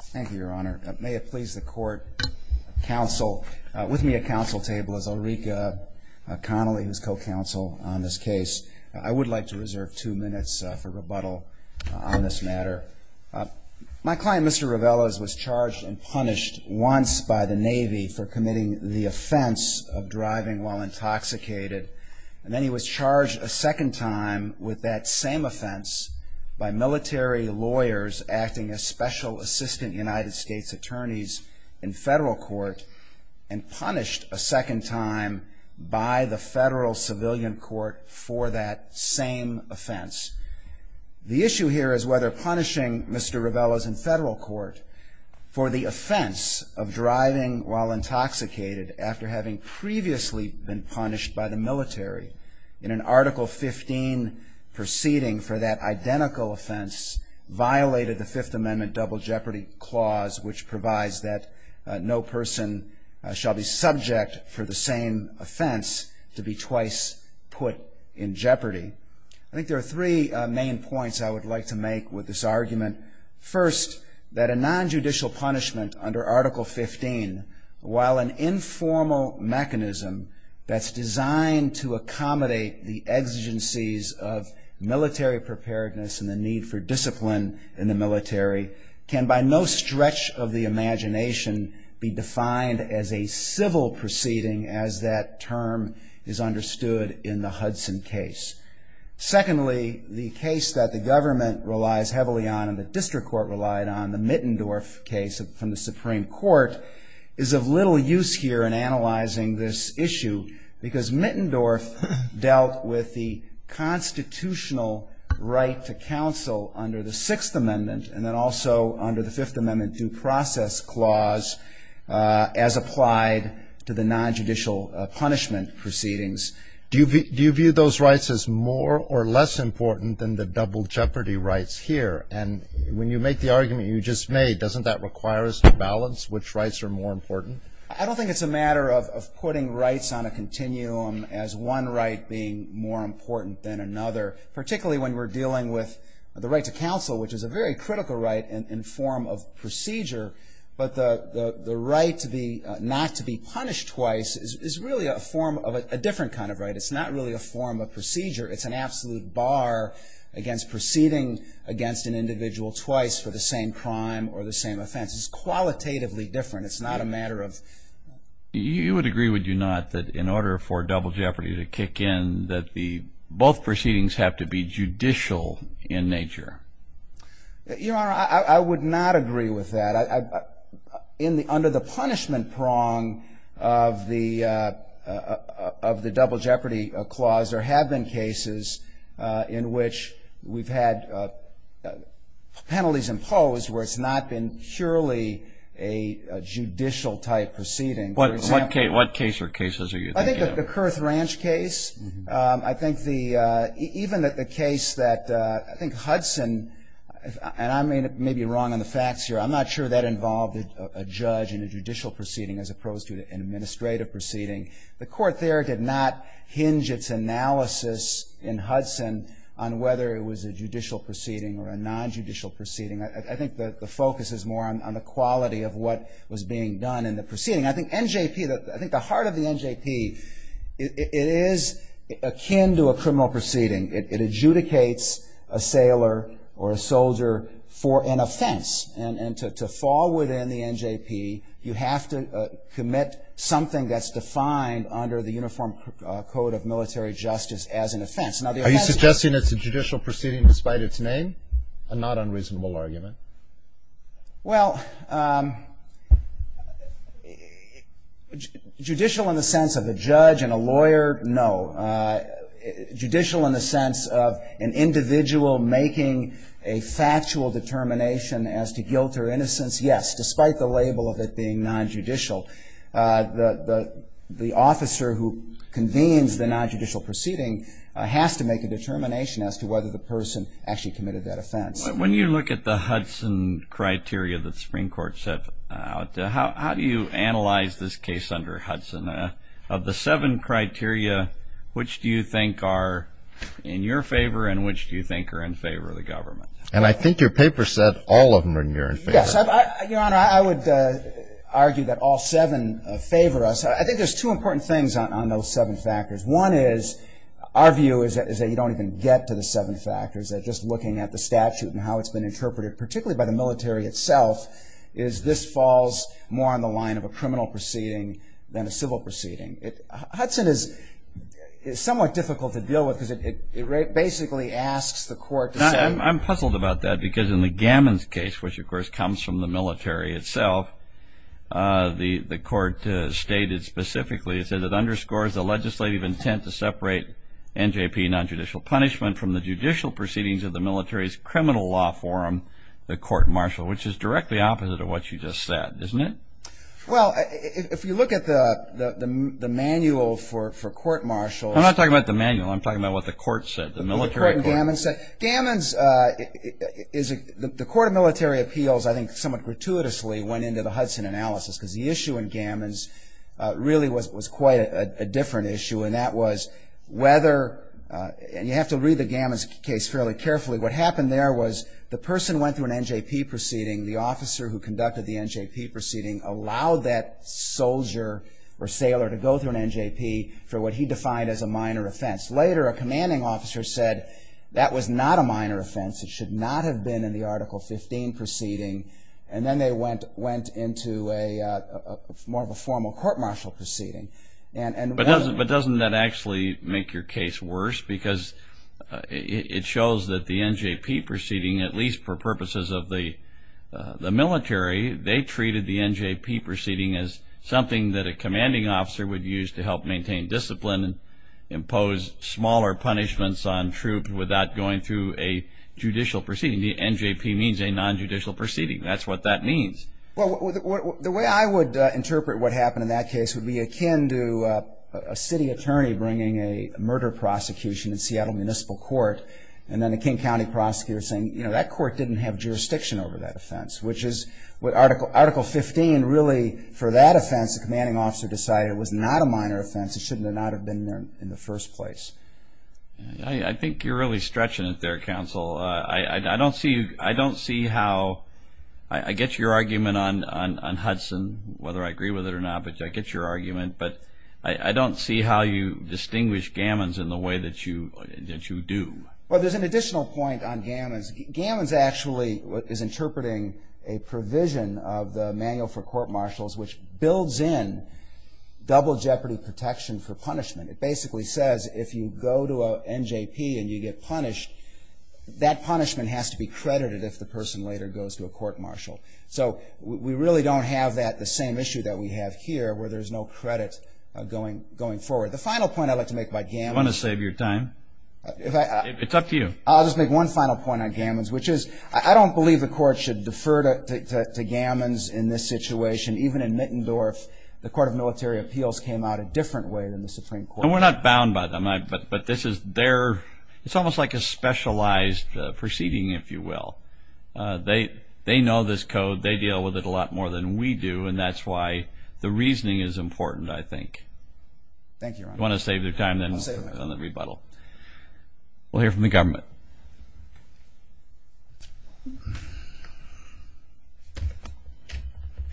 Thank you, Your Honor. May it please the court, counsel, with me at counsel table is Ulrika Connolly, who's co-counsel on this case. I would like to reserve two minutes for rebuttal on this matter. My client, Mr. Reveles, was charged and punished once by the Navy for committing the offense of driving while intoxicated, and then he was charged a second time with that same offense by military lawyers acting as special assistant United States attorneys in federal court, and punished a second time by the federal civilian court for that same offense. The issue here is whether punishing Mr. Reveles in federal court for the offense of driving while intoxicated after having previously been punished by the military in an Article 15 proceeding for that identical offense violated the Fifth Amendment Double Jeopardy Clause, which provides that no person shall be subject for the same offense to be twice put in jeopardy. I think there are three main points I would like to make with this argument. First, that a nonjudicial punishment under Article 15, while an informal mechanism that's designed to accommodate the exigencies of military preparedness and the need for discipline in the military, can by no stretch of the imagination be defined as a civil proceeding as that term is understood in the Hudson case. Secondly, the case that the government relies heavily on and the district court relied on, the Mittendorf case from the Supreme Court, is of little use here in analyzing this issue because Mittendorf dealt with the constitutional right to counsel under the Sixth Amendment and then also under the Fifth Amendment due process clause as applied to the nonjudicial punishment proceedings. Do you view those rights as more or less important than the double jeopardy rights here? And when you make the argument you just made, doesn't that require us to balance which rights are more important? I don't think it's a matter of putting rights on a continuum as one right being more important than another, particularly when we're dealing with the right to counsel, which is a very critical right in form of procedure. But the right not to be punished twice is really a form of a different kind of right. It's not really a form of procedure. It's an absolute bar against proceeding against an individual twice for the same crime or the same offense. It's qualitatively different. It's not a matter of... You would agree, would you not, that in order for double jeopardy to kick in, that both proceedings have to be judicial in nature? Your Honor, I would not agree with that. Under the punishment prong of the double jeopardy clause, there have been cases in which we've had penalties imposed where it's not been purely a judicial-type proceeding. What case or cases are you thinking of? I think the Kurth Ranch case. I think even the case that Hudson, and I may be wrong on the facts here. I'm not sure that involved a judge in a judicial proceeding as opposed to an administrative proceeding. The court there did not hinge its analysis in Hudson on whether it was a judicial proceeding or a non-judicial proceeding. I think the focus is more on the quality of what was being done in the proceeding. I think NJP, I think the heart of the NJP, it is akin to a criminal proceeding. It adjudicates a sailor or a soldier for an offense. And to fall within the NJP, you have to commit something that's defined under the Uniform Code of Military Justice as an offense. Are you suggesting it's a judicial proceeding despite its name? A not unreasonable argument. Well, judicial in the sense of a judge and a lawyer, no. Judicial in the sense of an individual making a factual determination as to guilt or innocence, yes, despite the label of it being non-judicial. The officer who convenes the non-judicial proceeding has to make a determination as to whether the person actually committed that offense. When you look at the Hudson criteria that the Supreme Court set out, how do you analyze this case under Hudson? Of the seven criteria, which do you think are in your favor and which do you think are in favor of the government? And I think your paper said all of them are in your favor. Yes. Your Honor, I would argue that all seven favor us. I think there's two important things on those seven factors. One is our view is that you don't even get to the seven factors. Just looking at the statute and how it's been interpreted, particularly by the military itself, is this falls more on the line of a criminal proceeding than a civil proceeding. Hudson is somewhat difficult to deal with because it basically asks the court to say- I'm puzzled about that because in the Gammons case, which, of course, comes from the military itself, the court stated specifically, it says it underscores the legislative intent to separate NJP non-judicial punishment from the judicial proceedings of the military's criminal law forum, the court-martial, which is directly opposite of what you just said, isn't it? Well, if you look at the manual for court-martial- I'm not talking about the manual. I'm talking about what the court said, the military court. The court in Gammons said-Gammons is-the court of military appeals, I think, somewhat gratuitously went into the Hudson analysis because the issue in Gammons really was quite a different issue, and that was whether- and you have to read the Gammons case fairly carefully. What happened there was the person went through an NJP proceeding. The officer who conducted the NJP proceeding allowed that soldier or sailor to go through an NJP for what he defined as a minor offense. Later, a commanding officer said that was not a minor offense. It should not have been in the Article 15 proceeding, and then they went into more of a formal court-martial proceeding. But doesn't that actually make your case worse? Because it shows that the NJP proceeding, at least for purposes of the military, they treated the NJP proceeding as something that a commanding officer would use to help maintain discipline and impose smaller punishments on troops without going through a judicial proceeding. The NJP means a non-judicial proceeding. That's what that means. Well, the way I would interpret what happened in that case would be akin to a city attorney bringing a murder prosecution in Seattle Municipal Court, and then a King County prosecutor saying, you know, that court didn't have jurisdiction over that offense, which is what Article 15 really- for that offense, the commanding officer decided it was not a minor offense. It should not have been there in the first place. I think you're really stretching it there, counsel. I don't see how-I get your argument on Hudson, whether I agree with it or not, but I get your argument. But I don't see how you distinguish Gammons in the way that you do. Well, there's an additional point on Gammons. Gammons actually is interpreting a provision of the Manual for Court Martials, which builds in double jeopardy protection for punishment. It basically says if you go to an NJP and you get punished, that punishment has to be credited if the person later goes to a court martial. So we really don't have that, the same issue that we have here, where there's no credit going forward. The final point I'd like to make about Gammons- You want to save your time? It's up to you. I'll just make one final point on Gammons, which is I don't believe the court should defer to Gammons in this situation. Even in Mittendorf, the Court of Military Appeals came out a different way than the Supreme Court. And we're not bound by them, but this is their-it's almost like a specialized proceeding, if you will. They know this code. They deal with it a lot more than we do, and that's why the reasoning is important, I think. Thank you, Your Honor. You want to save your time, then, on the rebuttal? I'll save it. We'll hear from the government. Your Honor.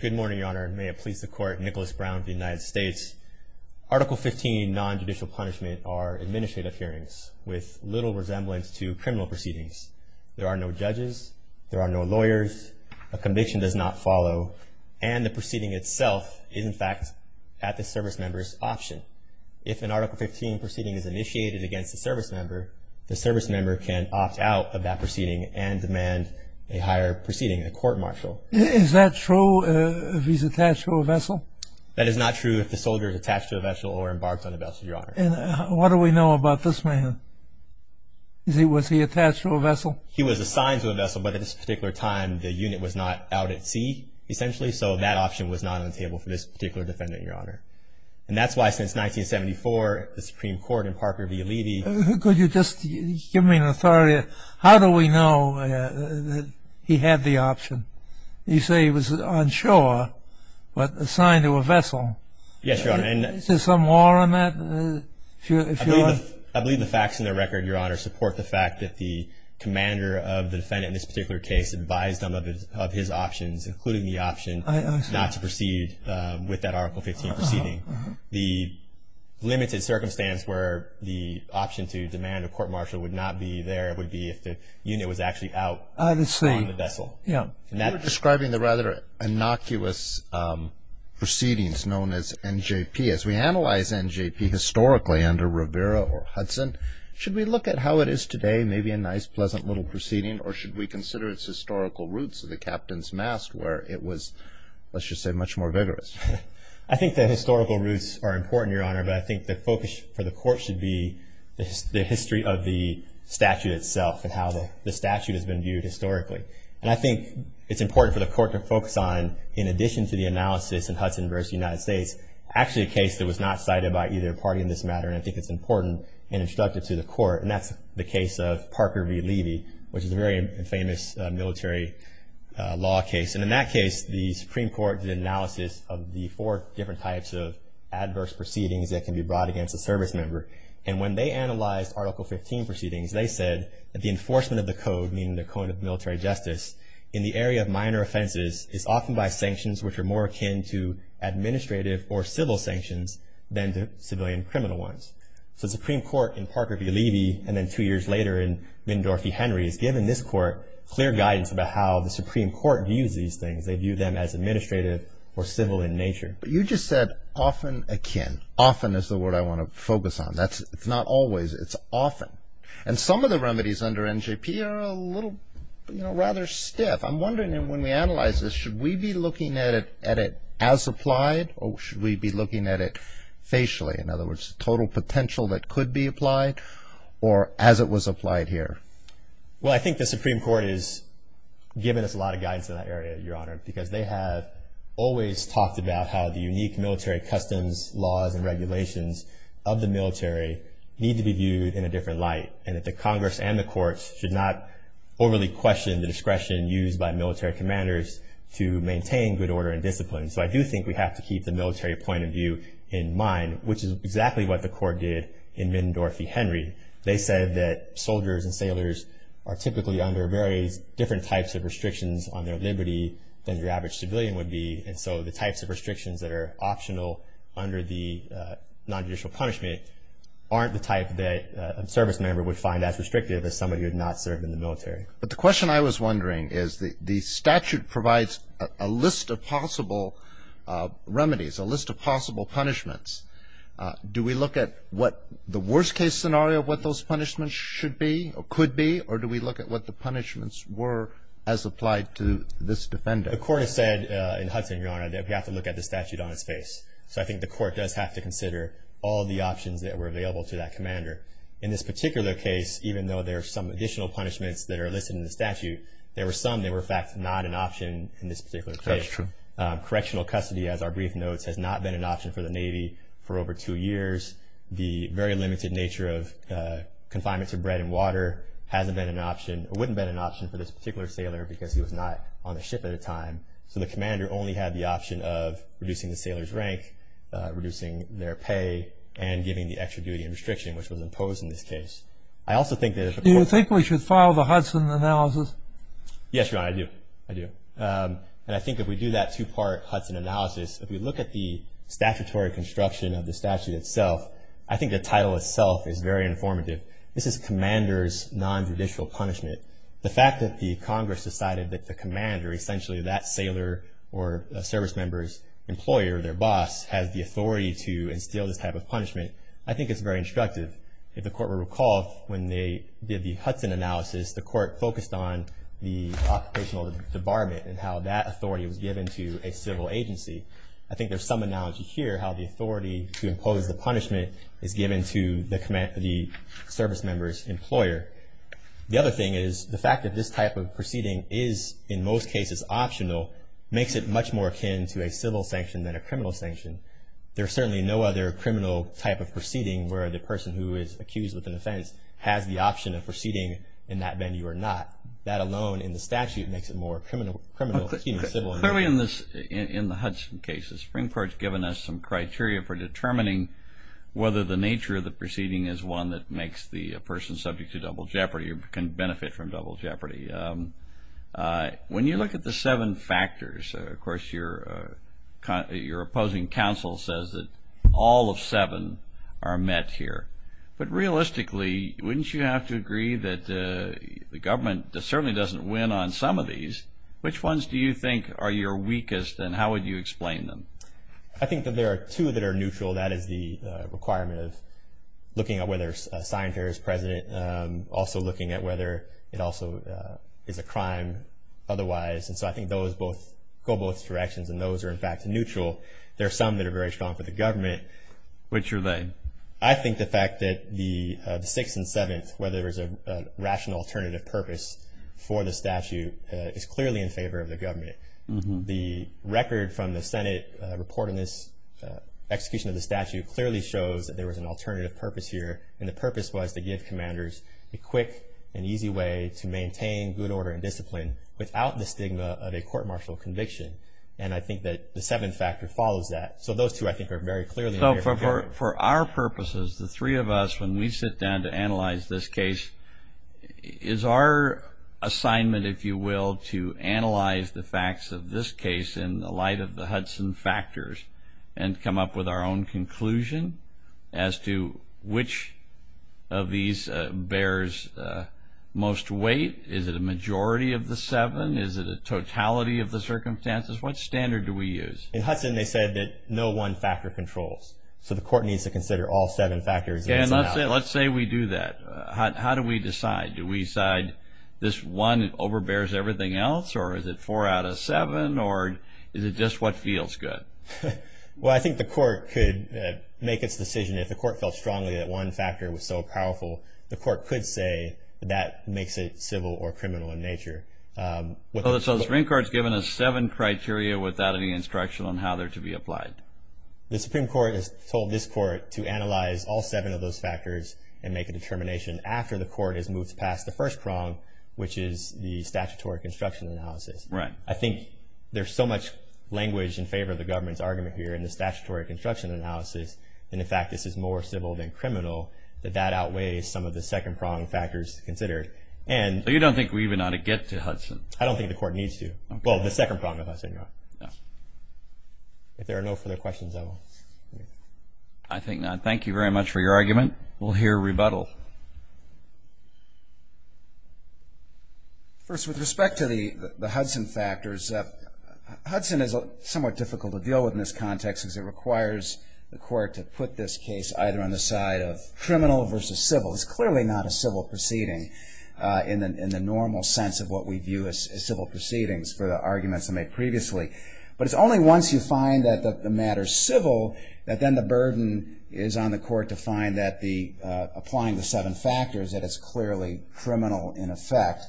Good morning, Your Honor, and may it please the Court. Nicholas Brown of the United States. Article 15, nonjudicial punishment, are administrative hearings with little resemblance to criminal proceedings. There are no judges. There are no lawyers. A conviction does not follow. And the proceeding itself is, in fact, at the service member's option. If an Article 15 proceeding is initiated against a service member, the service member can opt out of that proceeding and demand a higher proceeding, a court-martial. Is that true if he's attached to a vessel? That is not true if the soldier is attached to a vessel or embarked on a vessel, Your Honor. And what do we know about this man? Was he attached to a vessel? He was assigned to a vessel, but at this particular time, the unit was not out at sea, essentially, so that option was not on the table for this particular defendant, Your Honor. And that's why, since 1974, the Supreme Court in Parker v. Levy ---- Could you just give me an authority? How do we know that he had the option? You say he was on shore, but assigned to a vessel. Yes, Your Honor. Is there some law on that? I believe the facts in the record, Your Honor, support the fact that the commander of the defendant in this particular case advised them of his options, including the option not to proceed with that Article 15 proceeding. The limited circumstance where the option to demand a court-martial would not be there would be if the unit was actually out on the vessel. You were describing the rather innocuous proceedings known as NJP. As we analyze NJP historically under Rivera or Hudson, should we look at how it is today, maybe a nice, pleasant little proceeding, or should we consider its historical roots of the captain's mast where it was, let's just say, much more vigorous? I think the historical roots are important, Your Honor, but I think the focus for the Court should be the history of the statute itself and how the statute has been viewed historically. And I think it's important for the Court to focus on, in addition to the analysis in Hudson v. United States, actually a case that was not cited by either party in this matter, and I think it's important and instructive to the Court, and that's the case of Parker v. Levy, which is a very famous military law case. And in that case, the Supreme Court did an analysis of the four different types of adverse proceedings that can be brought against a service member. And when they analyzed Article 15 proceedings, they said that the enforcement of the code, meaning the code of military justice, in the area of minor offenses, is often by sanctions which are more akin to administrative or civil sanctions than to civilian criminal ones. So the Supreme Court, in Parker v. Levy, and then two years later in Mendorff v. Henry, has given this Court clear guidance about how the Supreme Court views these things. They view them as administrative or civil in nature. But you just said, often akin. Often is the word I want to focus on. It's not always. It's often. And some of the remedies under NJP are a little, you know, rather stiff. I'm wondering, when we analyze this, should we be looking at it as applied or should we be looking at it facially? In other words, total potential that could be applied or as it was applied here? Well, I think the Supreme Court has given us a lot of guidance in that area, Your Honor, because they have always talked about how the unique military customs laws and regulations of the military need to be viewed in a different light and that the Congress and the courts should not overly question the discretion used by military commanders to maintain good order and discipline. So I do think we have to keep the military point of view in mind, which is exactly what the Court did in Middendorff v. Henry. They said that soldiers and sailors are typically under various different types of restrictions on their liberty than your average civilian would be. And so the types of restrictions that are optional under the nonjudicial punishment aren't the type that a service member would find as restrictive as somebody who had not served in the military. But the question I was wondering is the statute provides a list of possible remedies, a list of possible punishments. Do we look at what the worst-case scenario of what those punishments should be or could be or do we look at what the punishments were as applied to this defendant? The Court has said in Hudson, Your Honor, that we have to look at the statute on its face. So I think the Court does have to consider all the options that were available to that commander. In this particular case, even though there are some additional punishments that are listed in the statute, there were some that were, in fact, not an option in this particular case. That's true. Correctional custody, as our brief notes, has not been an option for the Navy for over two years. The very limited nature of confinement to bread and water hasn't been an option or wouldn't have been an option for this particular sailor because he was not on the ship at the time. So the commander only had the option of reducing the sailor's rank, reducing their pay, and giving the extra duty and restriction, which was imposed in this case. I also think that if the Court- Do you think we should file the Hudson analysis? Yes, Your Honor, I do. I do. And I think if we do that two-part Hudson analysis, if we look at the statutory construction of the statute itself, I think the title itself is very informative. This is commander's nonjudicial punishment. The fact that the Congress decided that the commander, essentially that sailor or service member's employer, their boss, has the authority to instill this type of punishment, I think it's very instructive. If the Court will recall, when they did the Hudson analysis, the Court focused on the occupational debarment and how that authority was given to a civil agency. I think there's some analogy here, how the authority to impose the punishment is given to the service member's employer. The other thing is the fact that this type of proceeding is, in most cases, optional, makes it much more akin to a civil sanction than a criminal sanction. There's certainly no other criminal type of proceeding where the person who is accused with an offense has the option of proceeding in that venue or not. That alone in the statute makes it more criminal- Clearly in the Hudson case, the Supreme Court's given us some criteria for determining whether the nature of the proceeding is one that makes the person subject to double jeopardy or can benefit from double jeopardy. When you look at the seven factors, of course, your opposing counsel says that all of seven are met here. But realistically, wouldn't you have to agree that the government certainly doesn't win on some of these? Which ones do you think are your weakest and how would you explain them? I think that there are two that are neutral. That is the requirement of looking at whether a sign here is present, also looking at whether it also is a crime otherwise. And so I think those go both directions, and those are, in fact, neutral. There are some that are very strong for the government. Which are they? I think the fact that the sixth and seventh, whether there's a rational alternative purpose for the statute, is clearly in favor of the government. The record from the Senate reporting this execution of the statute clearly shows that there was an alternative purpose here, and the purpose was to give commanders a quick and easy way to maintain good order and discipline without the stigma of a court-martial conviction. And I think that the seventh factor follows that. So those two, I think, are very clearly in favor. So for our purposes, the three of us, when we sit down to analyze this case, is our assignment, if you will, to analyze the facts of this case in the light of the Hudson factors and come up with our own conclusion as to which of these bears most weight? Is it a majority of the seven? Is it a totality of the circumstances? What standard do we use? In Hudson, they said that no one factor controls. So the court needs to consider all seven factors. And let's say we do that. How do we decide? Do we decide this one overbears everything else, or is it four out of seven, or is it just what feels good? Well, I think the court could make its decision. If the court felt strongly that one factor was so powerful, the court could say that makes it civil or criminal in nature. So the Supreme Court has given us seven criteria without any instruction on how they're to be applied. The Supreme Court has told this court to analyze all seven of those factors and make a determination after the court has moved past the first prong, which is the statutory construction analysis. Right. I think there's so much language in favor of the government's argument here in the statutory construction analysis, and in fact this is more civil than criminal, that that outweighs some of the second prong factors considered. So you don't think we even ought to get to Hudson? I don't think the court needs to. Well, the second prong of Hudson, yeah. If there are no further questions, I will leave. I think not. Thank you very much for your argument. We'll hear rebuttal. First, with respect to the Hudson factors, Hudson is somewhat difficult to deal with in this context because it requires the court to put this case either on the side of criminal versus civil. It's clearly not a civil proceeding in the normal sense of what we view as civil proceedings for the arguments made previously. But it's only once you find that the matter's civil that then the burden is on the court to find that applying the seven factors that it's clearly criminal in effect.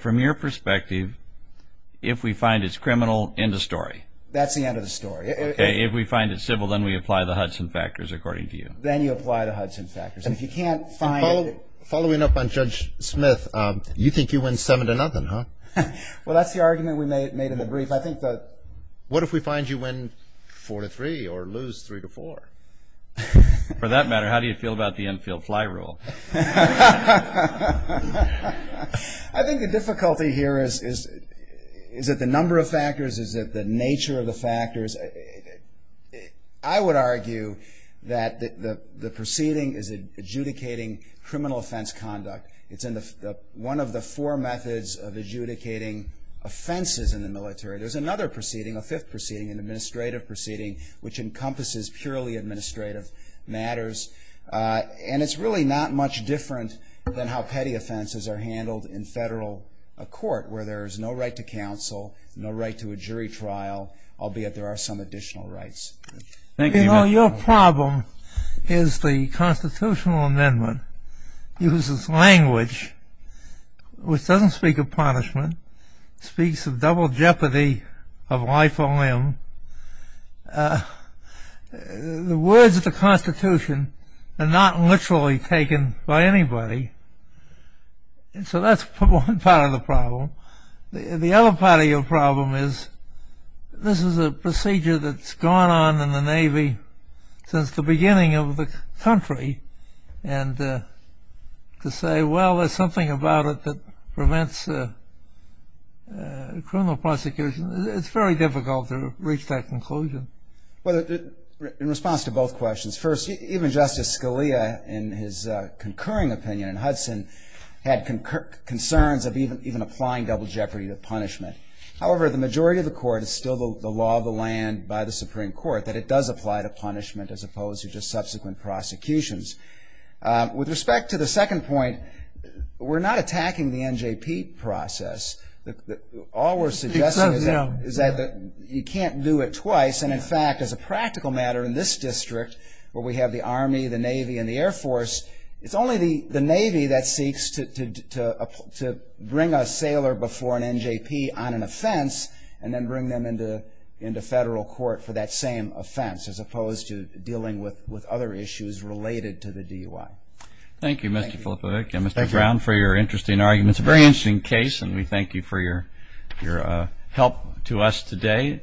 From your perspective, if we find it's criminal, end of story. That's the end of the story. If we find it civil, then we apply the Hudson factors, according to you. Then you apply the Hudson factors. Following up on Judge Smith, you think you win seven to nothing, huh? Well, that's the argument we made in the brief. What if we find you win four to three or lose three to four? For that matter, how do you feel about the infield fly rule? I think the difficulty here is, is it the number of factors? Is it the nature of the factors? I would argue that the proceeding is adjudicating criminal offense conduct. It's one of the four methods of adjudicating offenses in the military. There's another proceeding, a fifth proceeding, an administrative proceeding, which encompasses purely administrative matters. And it's really not much different than how petty offenses are handled in federal court, where there is no right to counsel, no right to a jury trial, albeit there are some additional rights. Thank you. Your problem is the constitutional amendment uses language, which doesn't speak of punishment. It speaks of double jeopardy of life or limb. The words of the Constitution are not literally taken by anybody. So that's one part of the problem. The other part of your problem is this is a procedure that's gone on in the Navy since the beginning of the country. And to say, well, there's something about it that prevents criminal prosecution, it's very difficult to reach that conclusion. Well, in response to both questions, concerns of even applying double jeopardy to punishment. However, the majority of the court is still the law of the land by the Supreme Court, that it does apply to punishment as opposed to just subsequent prosecutions. With respect to the second point, we're not attacking the NJP process. All we're suggesting is that you can't do it twice. And, in fact, as a practical matter in this district where we have the Army, the Navy, and the Air Force, it's only the Navy that seeks to bring a sailor before an NJP on an offense and then bring them into federal court for that same offense as opposed to dealing with other issues related to the DUI. Thank you, Mr. Filipovic. And, Mr. Brown, for your interesting argument. It's a very interesting case, and we thank you for your help to us today.